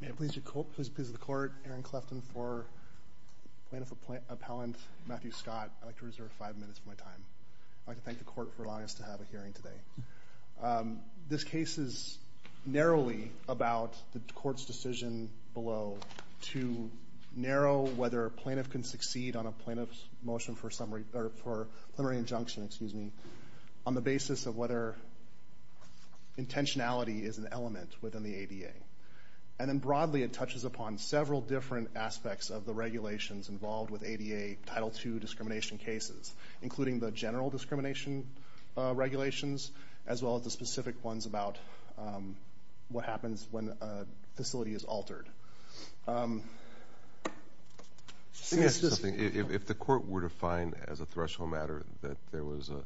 May it please the Court, Aaron Clefton for Plaintiff Appellant Matthew Scott. I'd like to reserve five minutes of my time. I'd like to thank the Court for allowing us to have a hearing today. This case is narrowly about the Court's decision below to narrow whether a plaintiff can succeed on a plaintiff's motion for a plenary injunction on the basis of whether intentionality is an element within the ADA. And then broadly it touches upon several different aspects of the regulations involved with ADA Title II discrimination cases, including the general discrimination regulations as well as the specific ones about what happens when a facility is altered. If the Court were to find as a threshold matter that there was a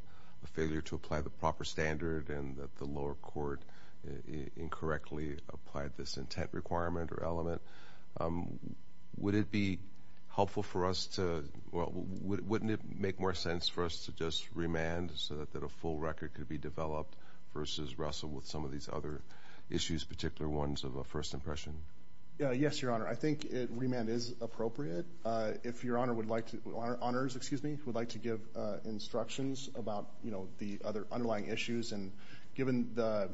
failure to apply the proper standard and that the lower court incorrectly applied this intent requirement or element, would it be helpful for us to, well, wouldn't it make more sense for us to just remand so that a full record could be developed versus wrestle with some of these other issues, particular ones of a first impression? Yes, Your Honor. I think remand is appropriate. If Your Honors would like to give instructions about the other underlying issues, and given the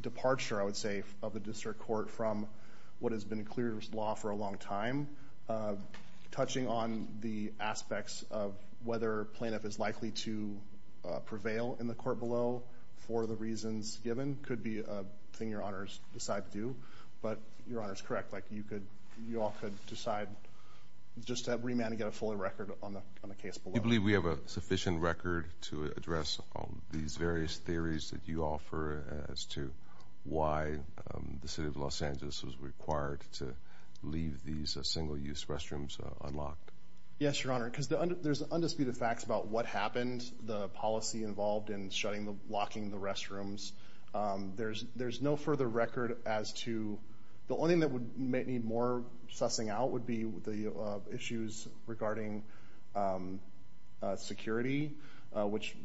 departure, I would say, of the District Court from what has been clear law for a long time, touching on the aspects of whether a plaintiff is likely to prevail in the court below for the reasons given could be a thing Your Honors decide to do. But Your Honor is correct, like you all could decide just to remand and get a full record on the case below. Do you believe we have a sufficient record to address these various theories that you offer as to why the City of Los Angeles was required to leave these single-use restrooms unlocked? Yes, Your Honor, because there's undisputed facts about what happened, the policy involved in locking the restrooms. There's no further record as to the only thing that would need more sussing out would be the issues regarding security, which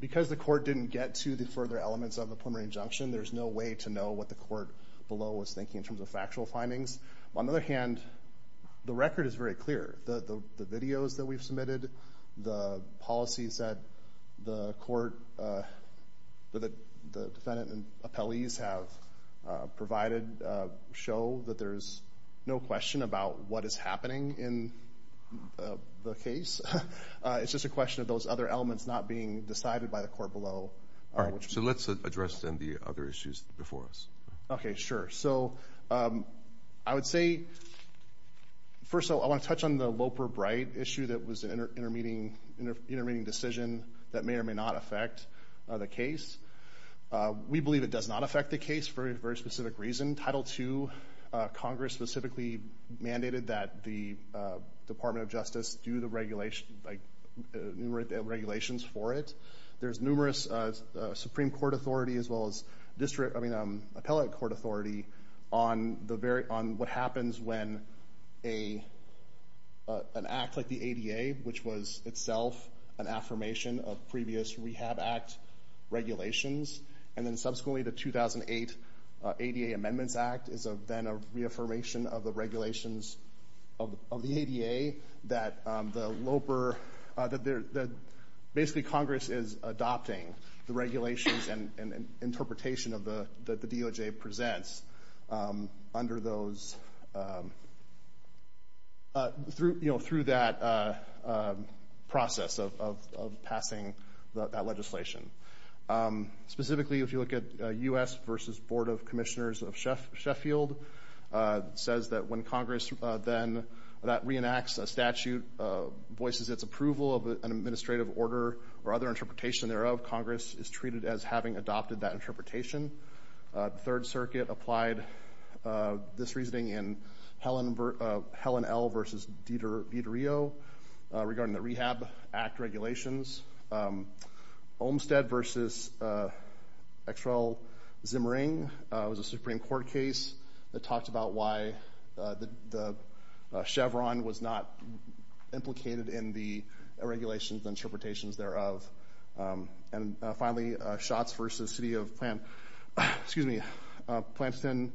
because the court didn't get to the further elements of a preliminary injunction, there's no way to know what the court below was thinking in terms of factual findings. On the other hand, the record is very clear. The videos that we've submitted, the policies that the defendant and appellees have provided show that there's no question about what is happening in the case. It's just a question of those other elements not being decided by the court below. All right, so let's address then the other issues before us. Okay, sure. So I would say, first of all, I want to touch on the Loper-Bright issue that was an intermediate decision that may or may not affect the case. We believe it does not affect the case for a very specific reason. Title II, Congress specifically mandated that the Department of Justice do the regulations for it. There's numerous Supreme Court authority as well as district, I mean appellate court authority on what happens when an act like the ADA, which was itself an affirmation of previous Rehab Act regulations, and then subsequently the 2008 ADA Amendments Act is then a reaffirmation of the regulations of the ADA that basically Congress is adopting the regulations and interpretation that the DOJ presents through that process of passing that legislation. Specifically, if you look at U.S. v. Board of Commissioners of Sheffield, it says that when Congress then reenacts a statute, voices its approval of an administrative order or other interpretation thereof, Congress is treated as having adopted that interpretation. The Third Circuit applied this reasoning in Helen L. v. DiDario regarding the Rehab Act regulations. Olmstead v. X.R.L. Zimring was a Supreme Court case that talked about why the Chevron was not implicated in the regulations and interpretations thereof. And finally, Shotz v. City of Planston,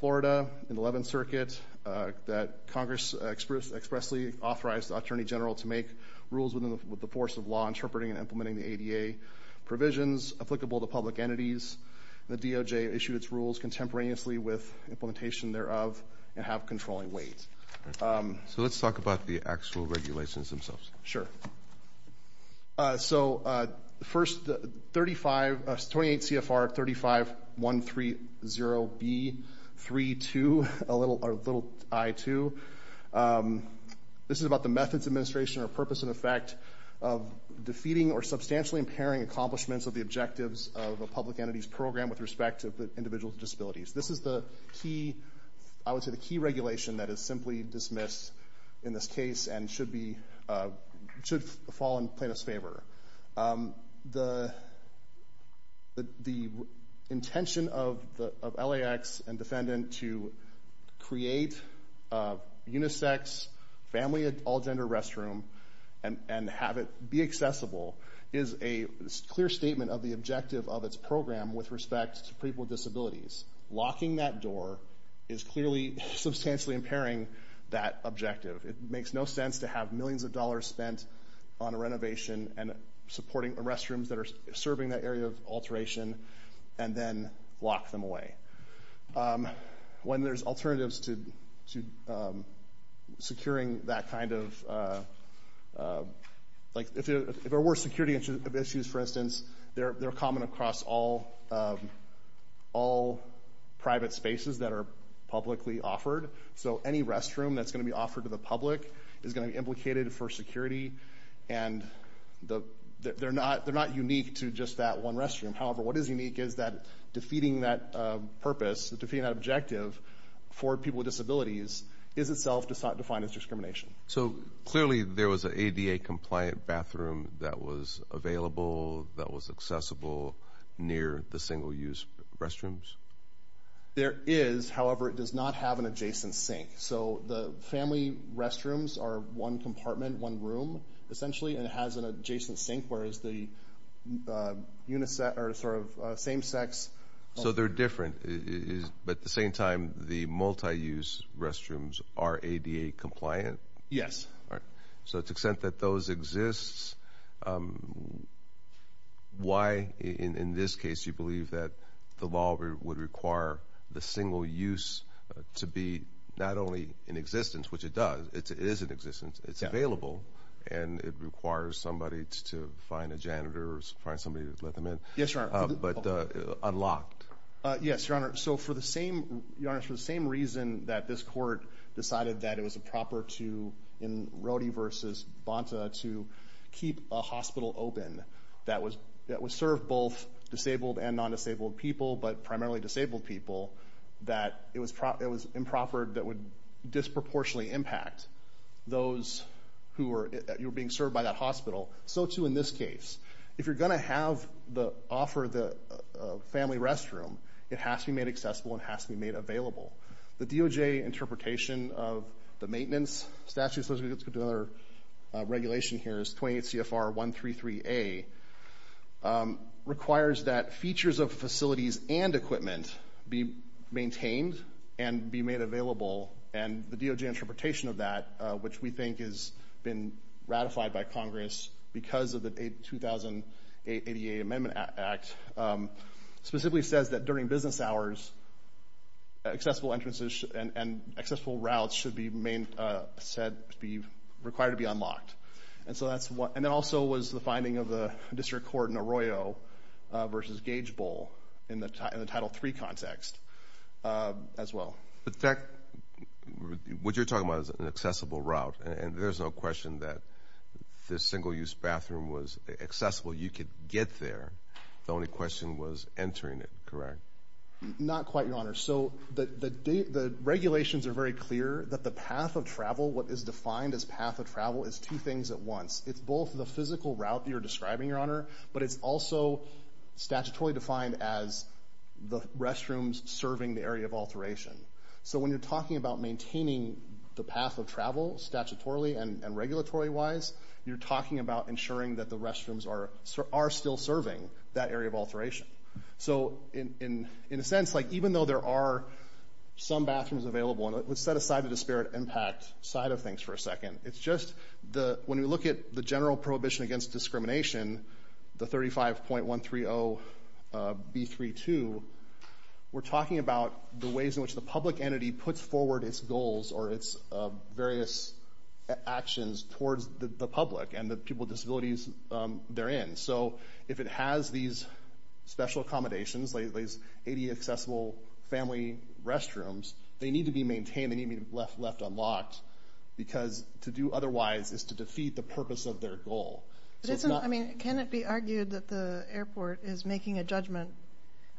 Florida in the Eleventh Circuit, that Congress expressly authorized the Attorney General to make rules within the force of law interpreting and implementing the ADA provisions applicable to public entities. The DOJ issued its rules contemporaneously with implementation thereof and have controlling weight. So let's talk about the actual regulations themselves. So first, 28 C.F.R. 35130B.3.2. This is about the methods, administration, or purpose and effect of defeating or substantially impairing accomplishments of the objectives of a public entity's program with respect to the individual's disabilities. This is the key regulation that is simply dismissed in this case and should fall in plaintiff's favor. The intention of LAX and defendant to create a unisex family all-gender restroom and have it be accessible is a clear statement of the objective of its program with respect to people with disabilities. Locking that door is clearly substantially impairing that objective. It makes no sense to have millions of dollars spent on a renovation and supporting the restrooms that are serving that area of alteration and then lock them away. When there's alternatives to securing that kind of, like if there were security issues, for instance, they're common across all private spaces that are publicly offered. So any restroom that's going to be offered to the public is going to be implicated for security. And they're not unique to just that one restroom. However, what is unique is that defeating that purpose, defeating that objective for people with disabilities is itself defined as discrimination. So clearly there was an ADA-compliant bathroom that was available, that was accessible near the single-use restrooms? There is. However, it does not have an adjacent sink. So the family restrooms are one compartment, one room, essentially, and it has an adjacent sink, whereas the same-sex. So they're different, but at the same time, the multi-use restrooms are ADA-compliant? Yes. So to the extent that those exist, why, in this case, do you believe that the law would require the single-use to be not only in existence, which it does, it is in existence, it's available, and it requires somebody to find a janitor or find somebody to let them in? Yes, Your Honor. But unlocked? Yes, Your Honor. So for the same reason that this court decided that it was improper to, in Rody v. Bonta, to keep a hospital open that would serve both disabled and non-disabled people, but primarily disabled people, that it was improper that would disproportionately impact those who were being served by that hospital, so too in this case. If you're going to offer the family restroom, it has to be made accessible and has to be made available. The DOJ interpretation of the maintenance statute, so let's go to another regulation here, is 28 CFR 133A, requires that features of facilities and equipment be maintained and be made available, and the DOJ interpretation of that, which we think has been ratified by Congress because of the 2008 ADA Amendment Act, specifically says that during business hours, accessible entrances and accessible routes should be required to be unlocked. And that also was the finding of the district court in Arroyo v. Gage Bowl in the Title III context as well. In fact, what you're talking about is an accessible route, and there's no question that this single-use bathroom was accessible. You could get there. The only question was entering it, correct? Not quite, Your Honor. So the regulations are very clear that the path of travel, what is defined as path of travel, is two things at once. It's both the physical route you're describing, Your Honor, but it's also statutorily defined as the restrooms serving the area of alteration. So when you're talking about maintaining the path of travel statutorily and regulatory-wise, you're talking about ensuring that the restrooms are still serving that area of alteration. So in a sense, like even though there are some bathrooms available, and let's set aside the disparate impact side of things for a second. It's just when we look at the general prohibition against discrimination, the 35.130B32, we're talking about the ways in which the public entity puts forward its goals or its various actions towards the public and the people with disabilities they're in. So if it has these special accommodations, these ADA-accessible family restrooms, they need to be maintained, they need to be left unlocked, because to do otherwise is to defeat the purpose of their goal. Can it be argued that the airport is making a judgment?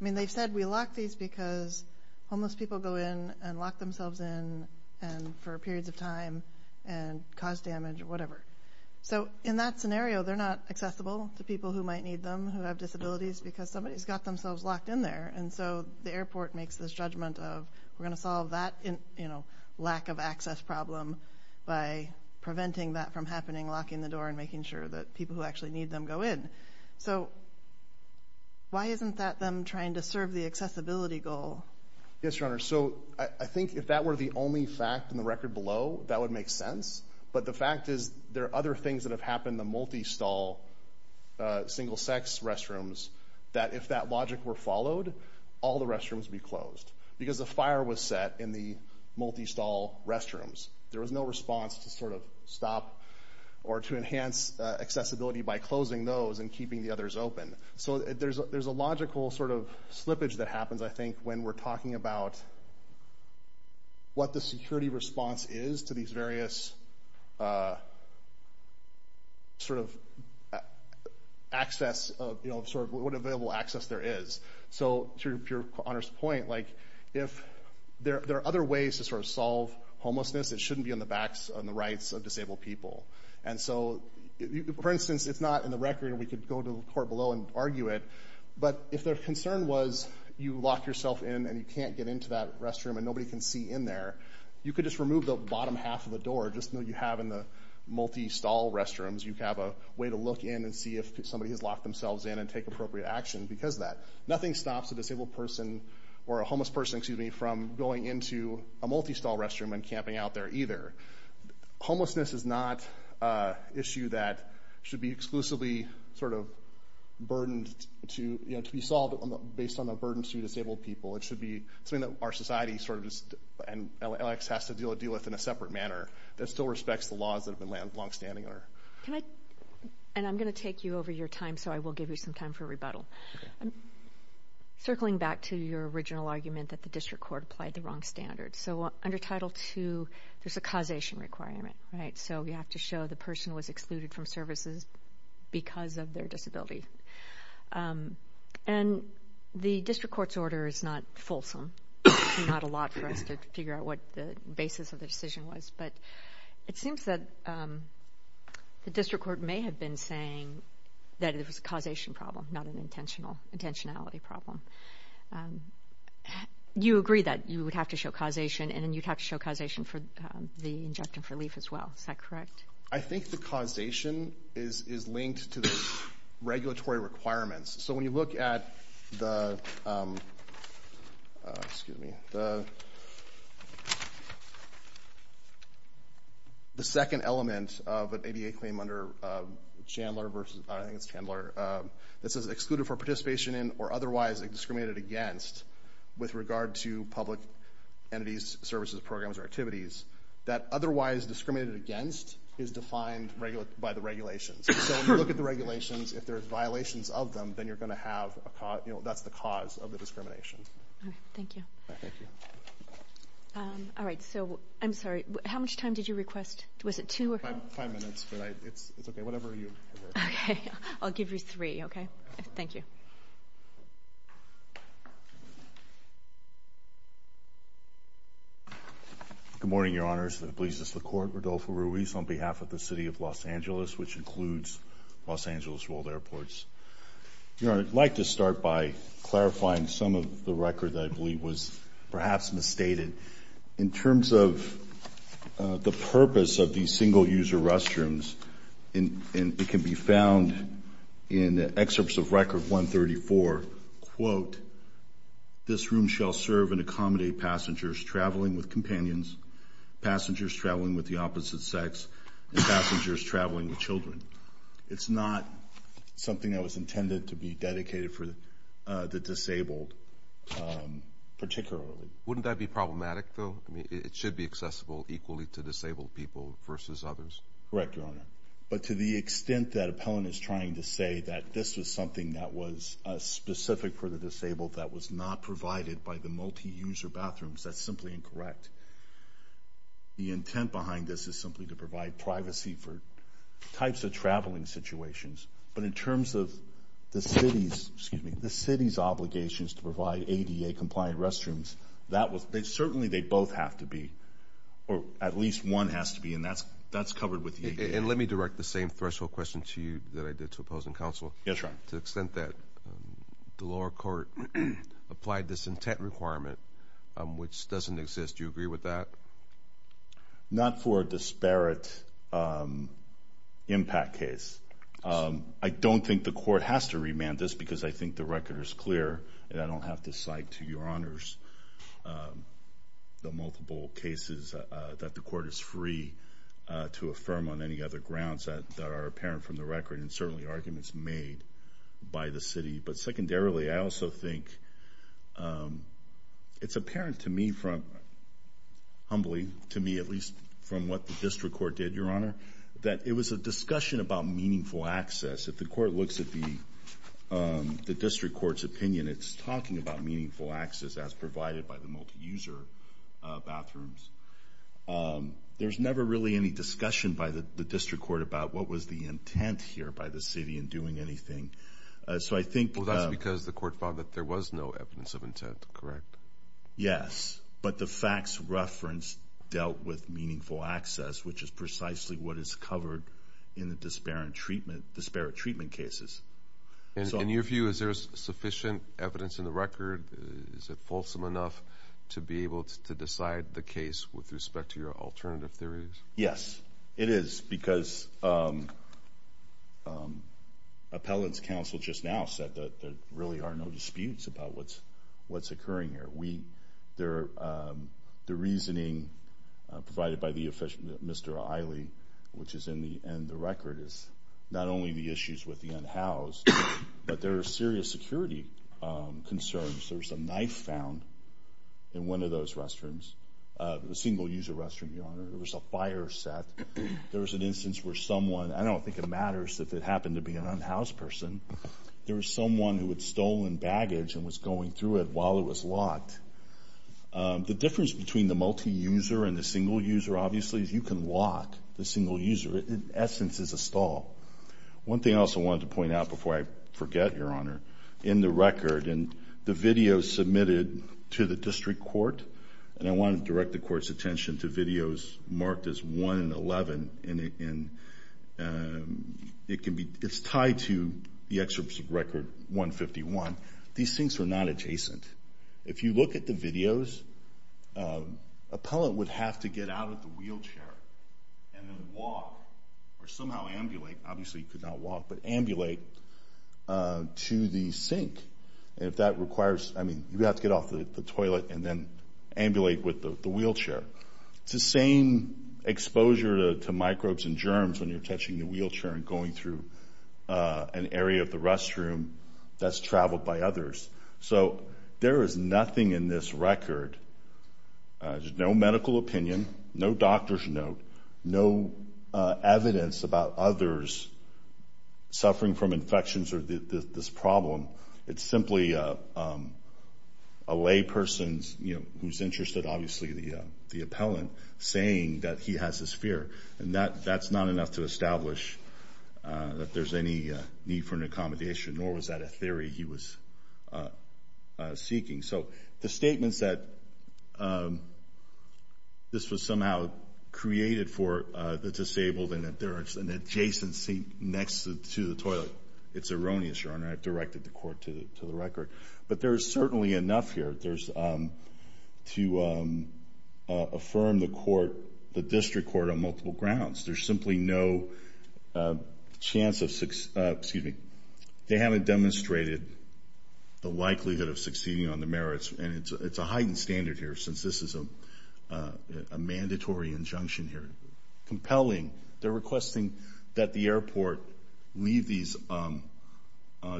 I mean, they've said we lock these because homeless people go in and lock themselves in for periods of time and cause damage or whatever. So in that scenario, they're not accessible to people who might need them who have disabilities because somebody's got themselves locked in there, and so the airport makes this judgment of we're going to solve that lack of access problem by preventing that from happening, locking the door, and making sure that people who actually need them go in. So why isn't that them trying to serve the accessibility goal? Yes, Your Honor. So I think if that were the only fact in the record below, that would make sense, but the fact is there are other things that have happened in the multi-stall, single-sex restrooms that if that logic were followed, all the restrooms would be closed because the fire was set in the multi-stall restrooms. There was no response to sort of stop or to enhance accessibility by closing those and keeping the others open. So there's a logical sort of slippage that happens, I think, when we're talking about what the security response is to these various sort of access, sort of what available access there is. So to Your Honor's point, if there are other ways to sort of solve homelessness, it shouldn't be on the backs, on the rights of disabled people. And so, for instance, it's not in the record, and we could go to the court below and argue it, but if their concern was you lock yourself in and you can't get into that restroom and nobody can see in there, you could just remove the bottom half of the door, just like you have in the multi-stall restrooms. You have a way to look in and see if somebody has locked themselves in and take appropriate action because of that. Nothing stops a disabled person or a homeless person, excuse me, from going into a multi-stall restroom and camping out there either. Homelessness is not an issue that should be exclusively sort of burdened to be solved based on the burden to disabled people. It should be something that our society sort of just has to deal with in a separate manner that still respects the laws that have been longstanding. And I'm going to take you over your time, so I will give you some time for rebuttal. Circling back to your original argument that the district court applied the wrong standards. So under Title II, there's a causation requirement, right? So we have to show the person was excluded from services because of their disability. And the district court's order is not fulsome. Not a lot for us to figure out what the basis of the decision was, but it seems that the district court may have been saying that it was a causation problem, not an intentionality problem. So you agree that you would have to show causation, and then you'd have to show causation for the injunctive relief as well. Is that correct? I think the causation is linked to the regulatory requirements. So when you look at the second element of an ADA claim under Chandler versus this is excluded for participation in or otherwise discriminated against with regard to public entities, services, programs, or activities, that otherwise discriminated against is defined by the regulations. So when you look at the regulations, if there are violations of them, then you're going to have a cause. That's the cause of the discrimination. Thank you. Thank you. All right, so I'm sorry. How much time did you request? Was it two? Five minutes, but it's okay. Okay. I'll give you three, okay? Thank you. Good morning, Your Honors. It pleases the Court. Rodolfo Ruiz on behalf of the City of Los Angeles, which includes Los Angeles World Airports. Your Honor, I'd like to start by clarifying some of the record that I believe was perhaps misstated. In terms of the purpose of these single-user restrooms, and it can be found in excerpts of Record 134, quote, this room shall serve and accommodate passengers traveling with companions, passengers traveling with the opposite sex, and passengers traveling with children. It's not something that was intended to be dedicated for the disabled particularly. Wouldn't that be problematic, though? I mean, it should be accessible equally to disabled people versus others. Correct, Your Honor. But to the extent that Appellant is trying to say that this was something that was specific for the disabled, that was not provided by the multi-user bathrooms, that's simply incorrect. The intent behind this is simply to provide privacy for types of traveling situations. But in terms of the city's obligations to provide ADA-compliant restrooms, certainly they both have to be, or at least one has to be, and that's covered with the ADA. And let me direct the same threshold question to you that I did to opposing counsel. Yes, Your Honor. To the extent that the lower court applied this intent requirement, which doesn't exist, do you agree with that? Not for a disparate impact case. I don't think the court has to remand this because I think the record is clear and I don't have to cite to Your Honors the multiple cases that the court is free to affirm on any other grounds that are apparent from the record and certainly arguments made by the city. But secondarily, I also think it's apparent to me, humbly to me at least from what the district court did, Your Honor, that it was a discussion about meaningful access. If the court looks at the district court's opinion, it's talking about meaningful access as provided by the multi-user bathrooms. There's never really any discussion by the district court about what was the intent here by the city in doing anything. Well, that's because the court found that there was no evidence of intent, correct? Yes. But the facts reference dealt with meaningful access, which is precisely what is covered in the disparate treatment cases. In your view, is there sufficient evidence in the record? Is it fulsome enough to be able to decide the case with respect to your alternative theories? Yes, it is because appellate's counsel just now said that there really are no disputes about what's occurring here. The reasoning provided by Mr. Iley, which is in the record, is not only the issues with the unhoused, but there are serious security concerns. There was a knife found in one of those restrooms, a single-user restroom, Your Honor. There was a fire set. There was an instance where someone, I don't think it matters if it happened to be an unhoused person, there was someone who had stolen baggage and was going through it while it was The difference between the multi-user and the single-user, obviously, is you can lock the single-user. In essence, it's a stall. One thing I also wanted to point out before I forget, Your Honor, in the record and the videos submitted to the district court, and I want to direct the court's attention to videos marked as 1 and 11, and it's tied to the excerpt of record 151. These things are not adjacent. If you look at the videos, appellant would have to get out of the wheelchair and then walk or somehow ambulate, obviously he could not walk, but ambulate to the sink. And if that requires, I mean, you have to get off the toilet and then ambulate with the wheelchair. It's the same exposure to microbes and germs when you're touching the wheelchair and going through an area of the restroom that's traveled by others. So there is nothing in this record, no medical opinion, no doctor's note, no evidence about others suffering from infections or this problem. It's simply a layperson who's interested, obviously the appellant, saying that he has this fear, and that's not enough to establish that there's any need for an accommodation, nor was that a theory he was seeking. So the statements that this was somehow created for the disabled and that there is an adjacency next to the toilet, it's erroneous, Your Honor. I've directed the court to the record. But there is certainly enough here to affirm the court, the district court, on multiple grounds. There's simply no chance of success. They haven't demonstrated the likelihood of succeeding on the merits, and it's a heightened standard here since this is a mandatory injunction here. Compelling. They're requesting that the airport leave these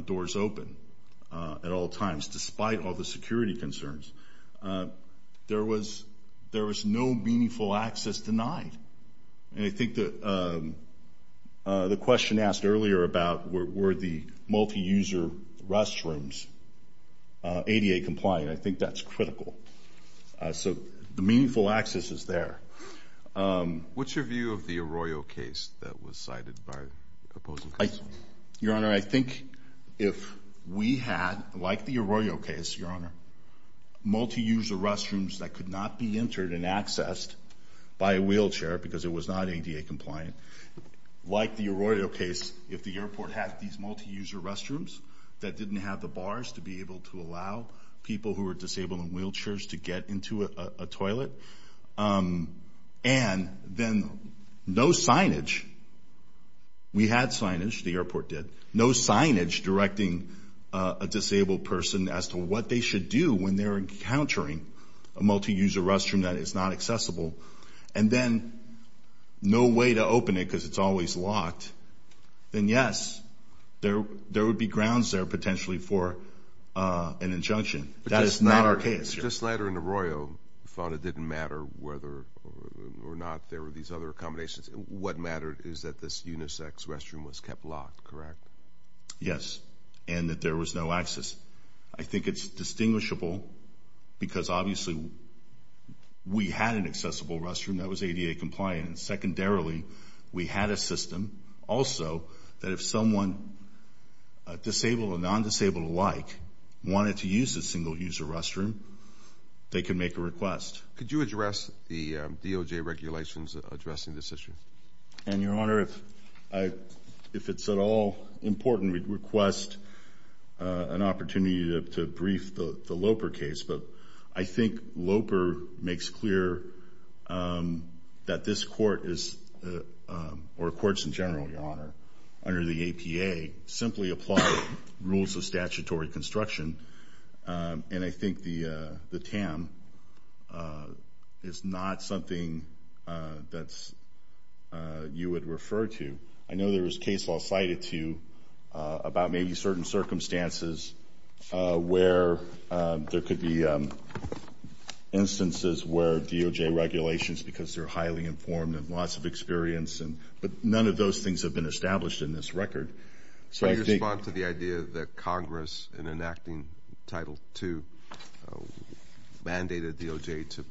doors open at all times, despite all the security concerns. There was no meaningful access denied. And I think the question asked earlier about were the multi-user restrooms ADA compliant, I think that's critical. So the meaningful access is there. What's your view of the Arroyo case that was cited by opposing counsel? Your Honor, I think if we had, like the Arroyo case, Your Honor, that could not be entered and accessed by a wheelchair because it was not ADA compliant, like the Arroyo case, if the airport had these multi-user restrooms that didn't have the bars to be able to allow people who were disabled in wheelchairs to get into a toilet, and then no signage, we had signage, the airport did, no signage directing a disabled person as to what they should do when they're encountering a multi-user restroom that is not accessible, and then no way to open it because it's always locked, then yes, there would be grounds there potentially for an injunction. That is not our case. But just later in the Arroyo, you found it didn't matter whether or not there were these other accommodations. What mattered is that this unisex restroom was kept locked, correct? Yes, and that there was no access. I think it's distinguishable because obviously we had an accessible restroom that was ADA compliant. Secondarily, we had a system also that if someone, disabled or non-disabled alike, wanted to use a single-user restroom, they could make a request. Could you address the DOJ regulations addressing this issue? And, Your Honor, if it's at all important, we'd request an opportunity to brief the Loper case, but I think Loper makes clear that this court is, or courts in general, Your Honor, under the APA simply apply rules of statutory construction, and I think the TAM is not something that you would refer to. I know there was case law cited to you about maybe certain circumstances where there could be instances where DOJ regulations, because they're highly informed and lots of experience, but none of those things have been established in this record. So I respond to the idea that Congress, in enacting Title II, mandated DOJ to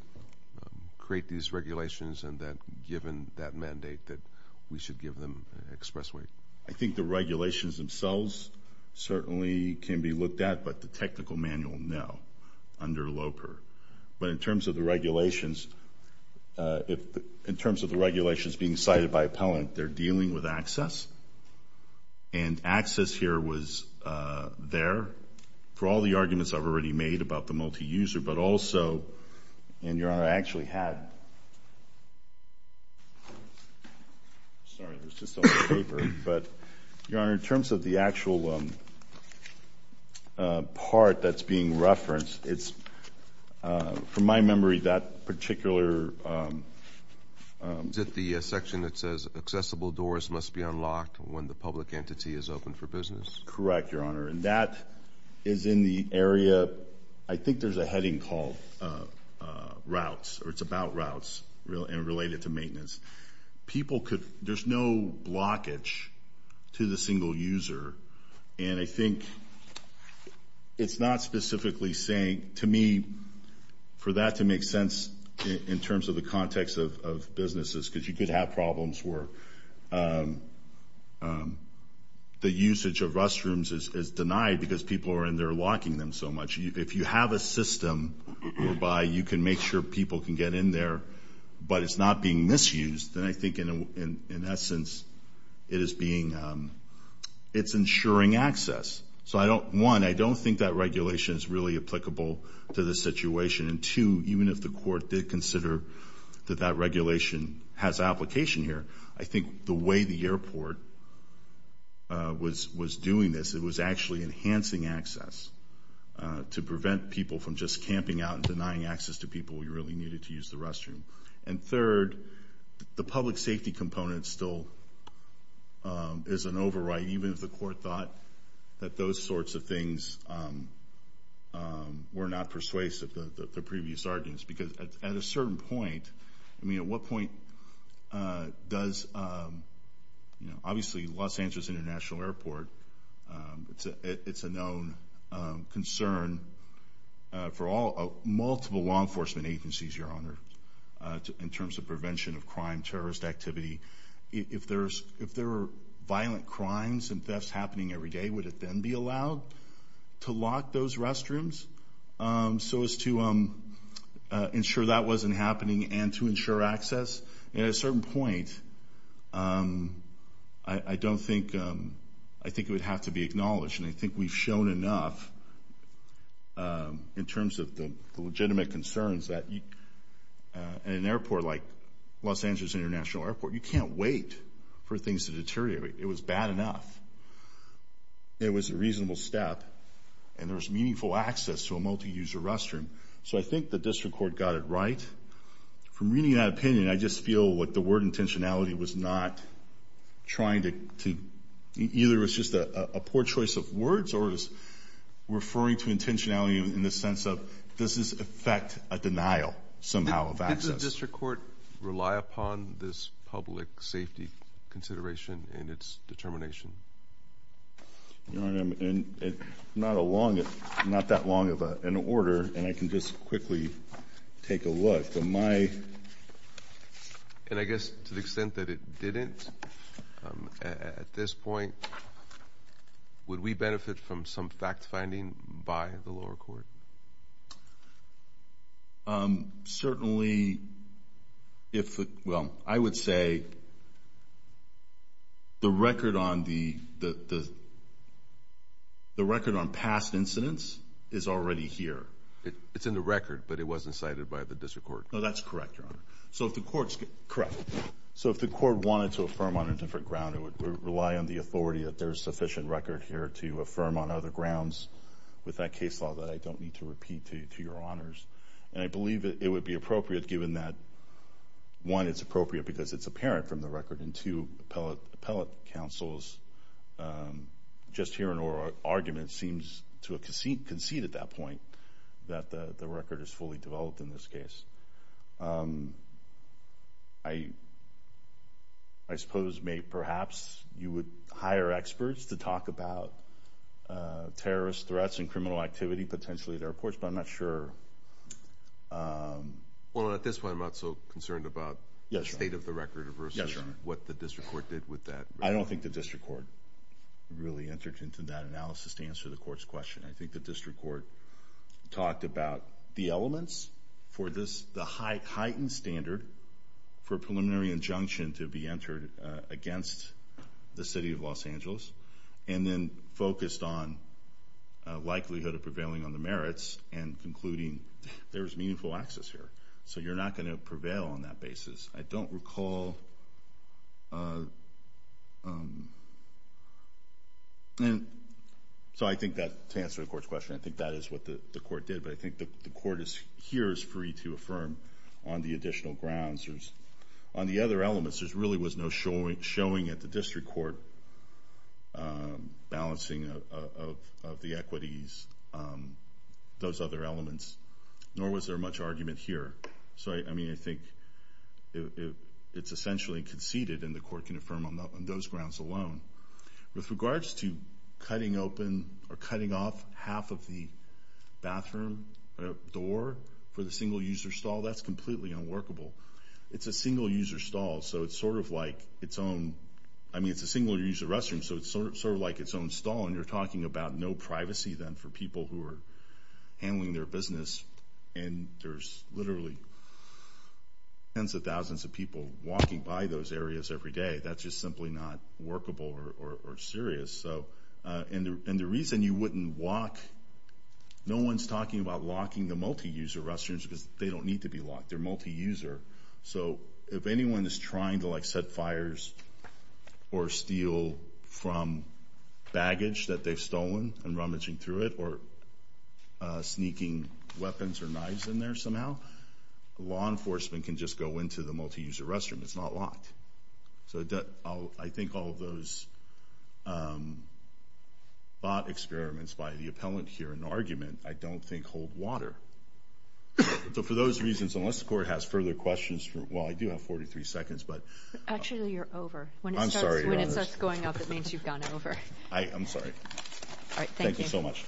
create these regulations, and that given that mandate that we should give them express weight. I think the regulations themselves certainly can be looked at, but the technical manual, no, under Loper. But in terms of the regulations being cited by appellant, they're dealing with access? And access here was there for all the arguments I've already made about the multi-user, but also, and, Your Honor, I actually had. Sorry, there's just a little paper. But, Your Honor, in terms of the actual part that's being referenced, it's, from my memory, that particular section that says accessible doors must be unlocked when the public entity is open for business. Correct, Your Honor. And that is in the area, I think there's a heading called routes, or it's about routes and related to maintenance. People could, there's no blockage to the single user, and I think it's not specifically saying, to me, for that to make sense in terms of the context of businesses, because you could have problems where the usage of restrooms is denied because people are in there locking them so much. If you have a system whereby you can make sure people can get in there, but it's not being misused, then I think, in essence, it is being, it's ensuring access. So, one, I don't think that regulation is really applicable to this situation. And, two, even if the court did consider that that regulation has application here, I think the way the airport was doing this, it was actually enhancing access to prevent people from just camping out and denying access to people who really needed to use the restroom. And, third, the public safety component still is an override, even if the court thought that those sorts of things were not persuasive, the previous arguments, because at a certain point, I mean, at what point does, obviously, Los Angeles International Airport, it's a known concern for multiple law enforcement agencies, Your Honor, in terms of prevention of crime, terrorist activity. If there are violent crimes and thefts happening every day, would it then be allowed to lock those restrooms? So, as to ensure that wasn't happening and to ensure access, at a certain point, I don't think, I think it would have to be acknowledged, and I think we've shown enough in terms of the legitimate concerns that, in an airport like Los Angeles International Airport, you can't wait for things to deteriorate. It was bad enough. It was a reasonable step, and there was meaningful access to a multi-user restroom. So I think the district court got it right. From reading that opinion, I just feel like the word intentionality was not trying to, either it was just a poor choice of words or it was referring to intentionality in the sense of, does this affect a denial, somehow, of access? Does the district court rely upon this public safety consideration in its determination? Your Honor, I'm not that long of an order, and I can just quickly take a look. And I guess to the extent that it didn't, at this point, would we benefit from some fact-finding by the lower court? Certainly, well, I would say the record on past incidents is already here. It's in the record, but it wasn't cited by the district court. No, that's correct, Your Honor. Correct. So if the court wanted to affirm on a different ground, it would rely on the authority that there's sufficient record here to affirm on other grounds with that case law that I don't need to repeat to Your Honors. And I believe it would be appropriate, given that, one, it's appropriate because it's apparent from the record, and, two, appellate counsels, just hearing oral arguments seems to concede at that point that the record is fully developed in this case. I suppose, perhaps, you would hire experts to talk about terrorist threats and criminal activity potentially at our courts, but I'm not sure. Well, at this point, I'm not so concerned about the state of the record versus what the district court did with that record. I don't think the district court really entered into that analysis to answer the court's question. I think the district court talked about the elements for the heightened standard for a preliminary injunction to be entered against the city of Los Angeles and then focused on likelihood of prevailing on the merits and concluding there is meaningful access here. So you're not going to prevail on that basis. I don't recall. So I think that, to answer the court's question, I think that is what the court did, but I think the court here is free to affirm on the additional grounds. On the other elements, there really was no showing at the district court balancing of the equities, those other elements, nor was there much argument here. So, I mean, I think it's essentially conceded, and the court can affirm on those grounds alone. With regards to cutting open or cutting off half of the bathroom door for the single-user stall, that's completely unworkable. It's a single-user stall, so it's sort of like its own. I mean, it's a single-user restroom, so it's sort of like its own stall, and you're talking about no privacy then for people who are handling their business, and there's literally tens of thousands of people walking by those areas every day. That's just simply not workable or serious. And the reason you wouldn't walk, no one's talking about locking the multi-user restrooms because they don't need to be locked. They're multi-user. So if anyone is trying to, like, set fires or steal from baggage that they've stolen and rummaging through it or sneaking weapons or knives in there somehow, law enforcement can just go into the multi-user restroom. It's not locked. So I think all of those thought experiments by the appellant here in the argument, I don't think hold water. So for those reasons, unless the court has further questions, well, I do have 43 seconds, but— Actually, you're over. I'm sorry. When it starts going up, it means you've gone over. I'm sorry. All right. Thank you. Thank you so much.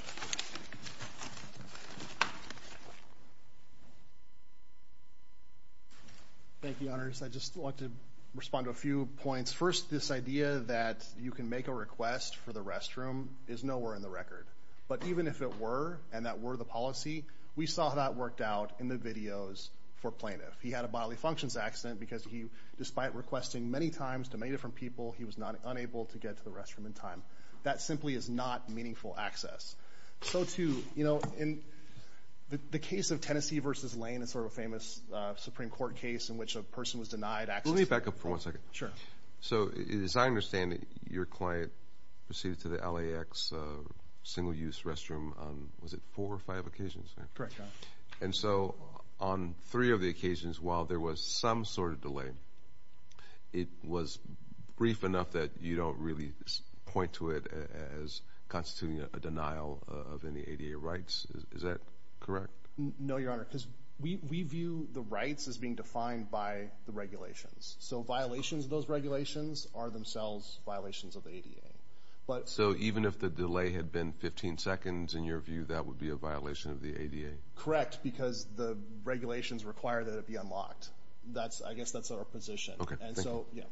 Thank you, Your Honors. I just want to respond to a few points. First, this idea that you can make a request for the restroom is nowhere in the record. But even if it were and that were the policy, we saw how that worked out in the videos for Plaintiff. He had a bodily functions accident because he, despite requesting many times to many different people, he was unable to get to the restroom in time. That simply is not meaningful access. So, too, you know, in the case of Tennessee v. Lane, it's sort of a famous Supreme Court case in which a person was denied access— Let me back up for one second. Sure. So as I understand it, your client proceeded to the LAX single-use restroom on, was it four or five occasions? Correct, Your Honor. And so on three of the occasions, while there was some sort of delay, it was brief enough that you don't really point to it as constituting a denial of any ADA rights. Is that correct? No, Your Honor, because we view the rights as being defined by the regulations. So violations of those regulations are themselves violations of the ADA. So even if the delay had been 15 seconds, in your view, that would be a violation of the ADA? Correct, because the regulations require that it be unlocked. I guess that's our position. And so, yeah.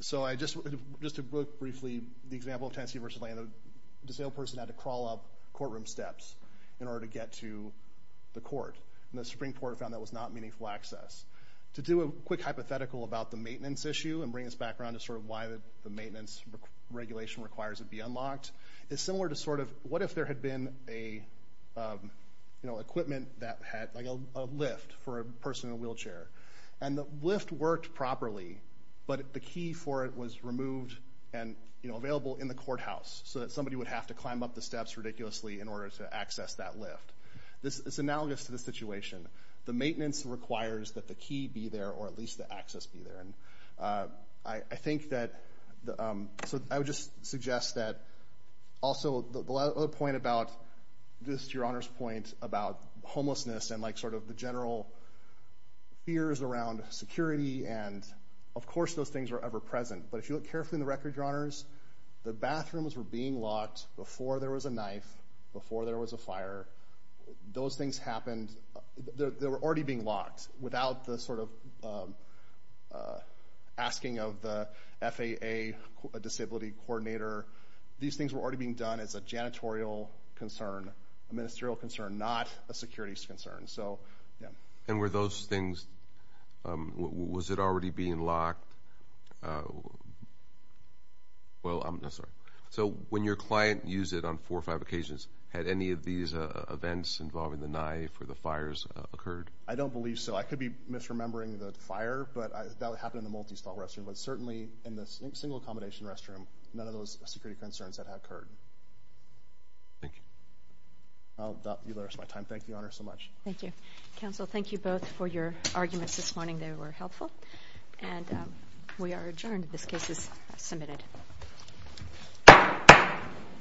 So just to briefly, the example of Tennessee v. Lane, the disabled person had to crawl up courtroom steps in order to get to the court, and the Supreme Court found that was not meaningful access. To do a quick hypothetical about the maintenance issue and bring us back around to sort of why the maintenance regulation requires it be unlocked, is similar to sort of what if there had been equipment that had a lift for a person in a wheelchair, and the lift worked properly, but the key for it was removed and available in the courthouse so that somebody would have to climb up the steps ridiculously in order to access that lift. It's analogous to the situation. The maintenance requires that the key be there or at least the access be there. I think that the—so I would just suggest that also the point about, just to your Honor's point, about homelessness and like sort of the general fears around security, and of course those things were ever-present, but if you look carefully in the record, your Honors, the bathrooms were being locked before there was a knife, before there was a fire. Those things happened—they were already being locked without the sort of asking of the FAA disability coordinator. These things were already being done as a janitorial concern, a ministerial concern, not a securities concern. And were those things—was it already being locked? Well, I'm sorry. So when your client used it on four or five occasions, had any of these events involving the knife or the fires occurred? I don't believe so. I could be misremembering the fire, but that would happen in a multi-stall restroom, but certainly in the single-accommodation restroom, none of those security concerns had occurred. Thank you. I'll allow my time. Thank you, Your Honor, so much. Thank you. Counsel, thank you both for your arguments this morning. They were helpful. And we are adjourned. This case is submitted.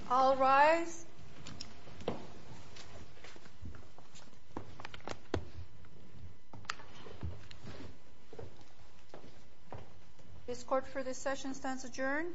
All rise. This court for this session stands adjourned.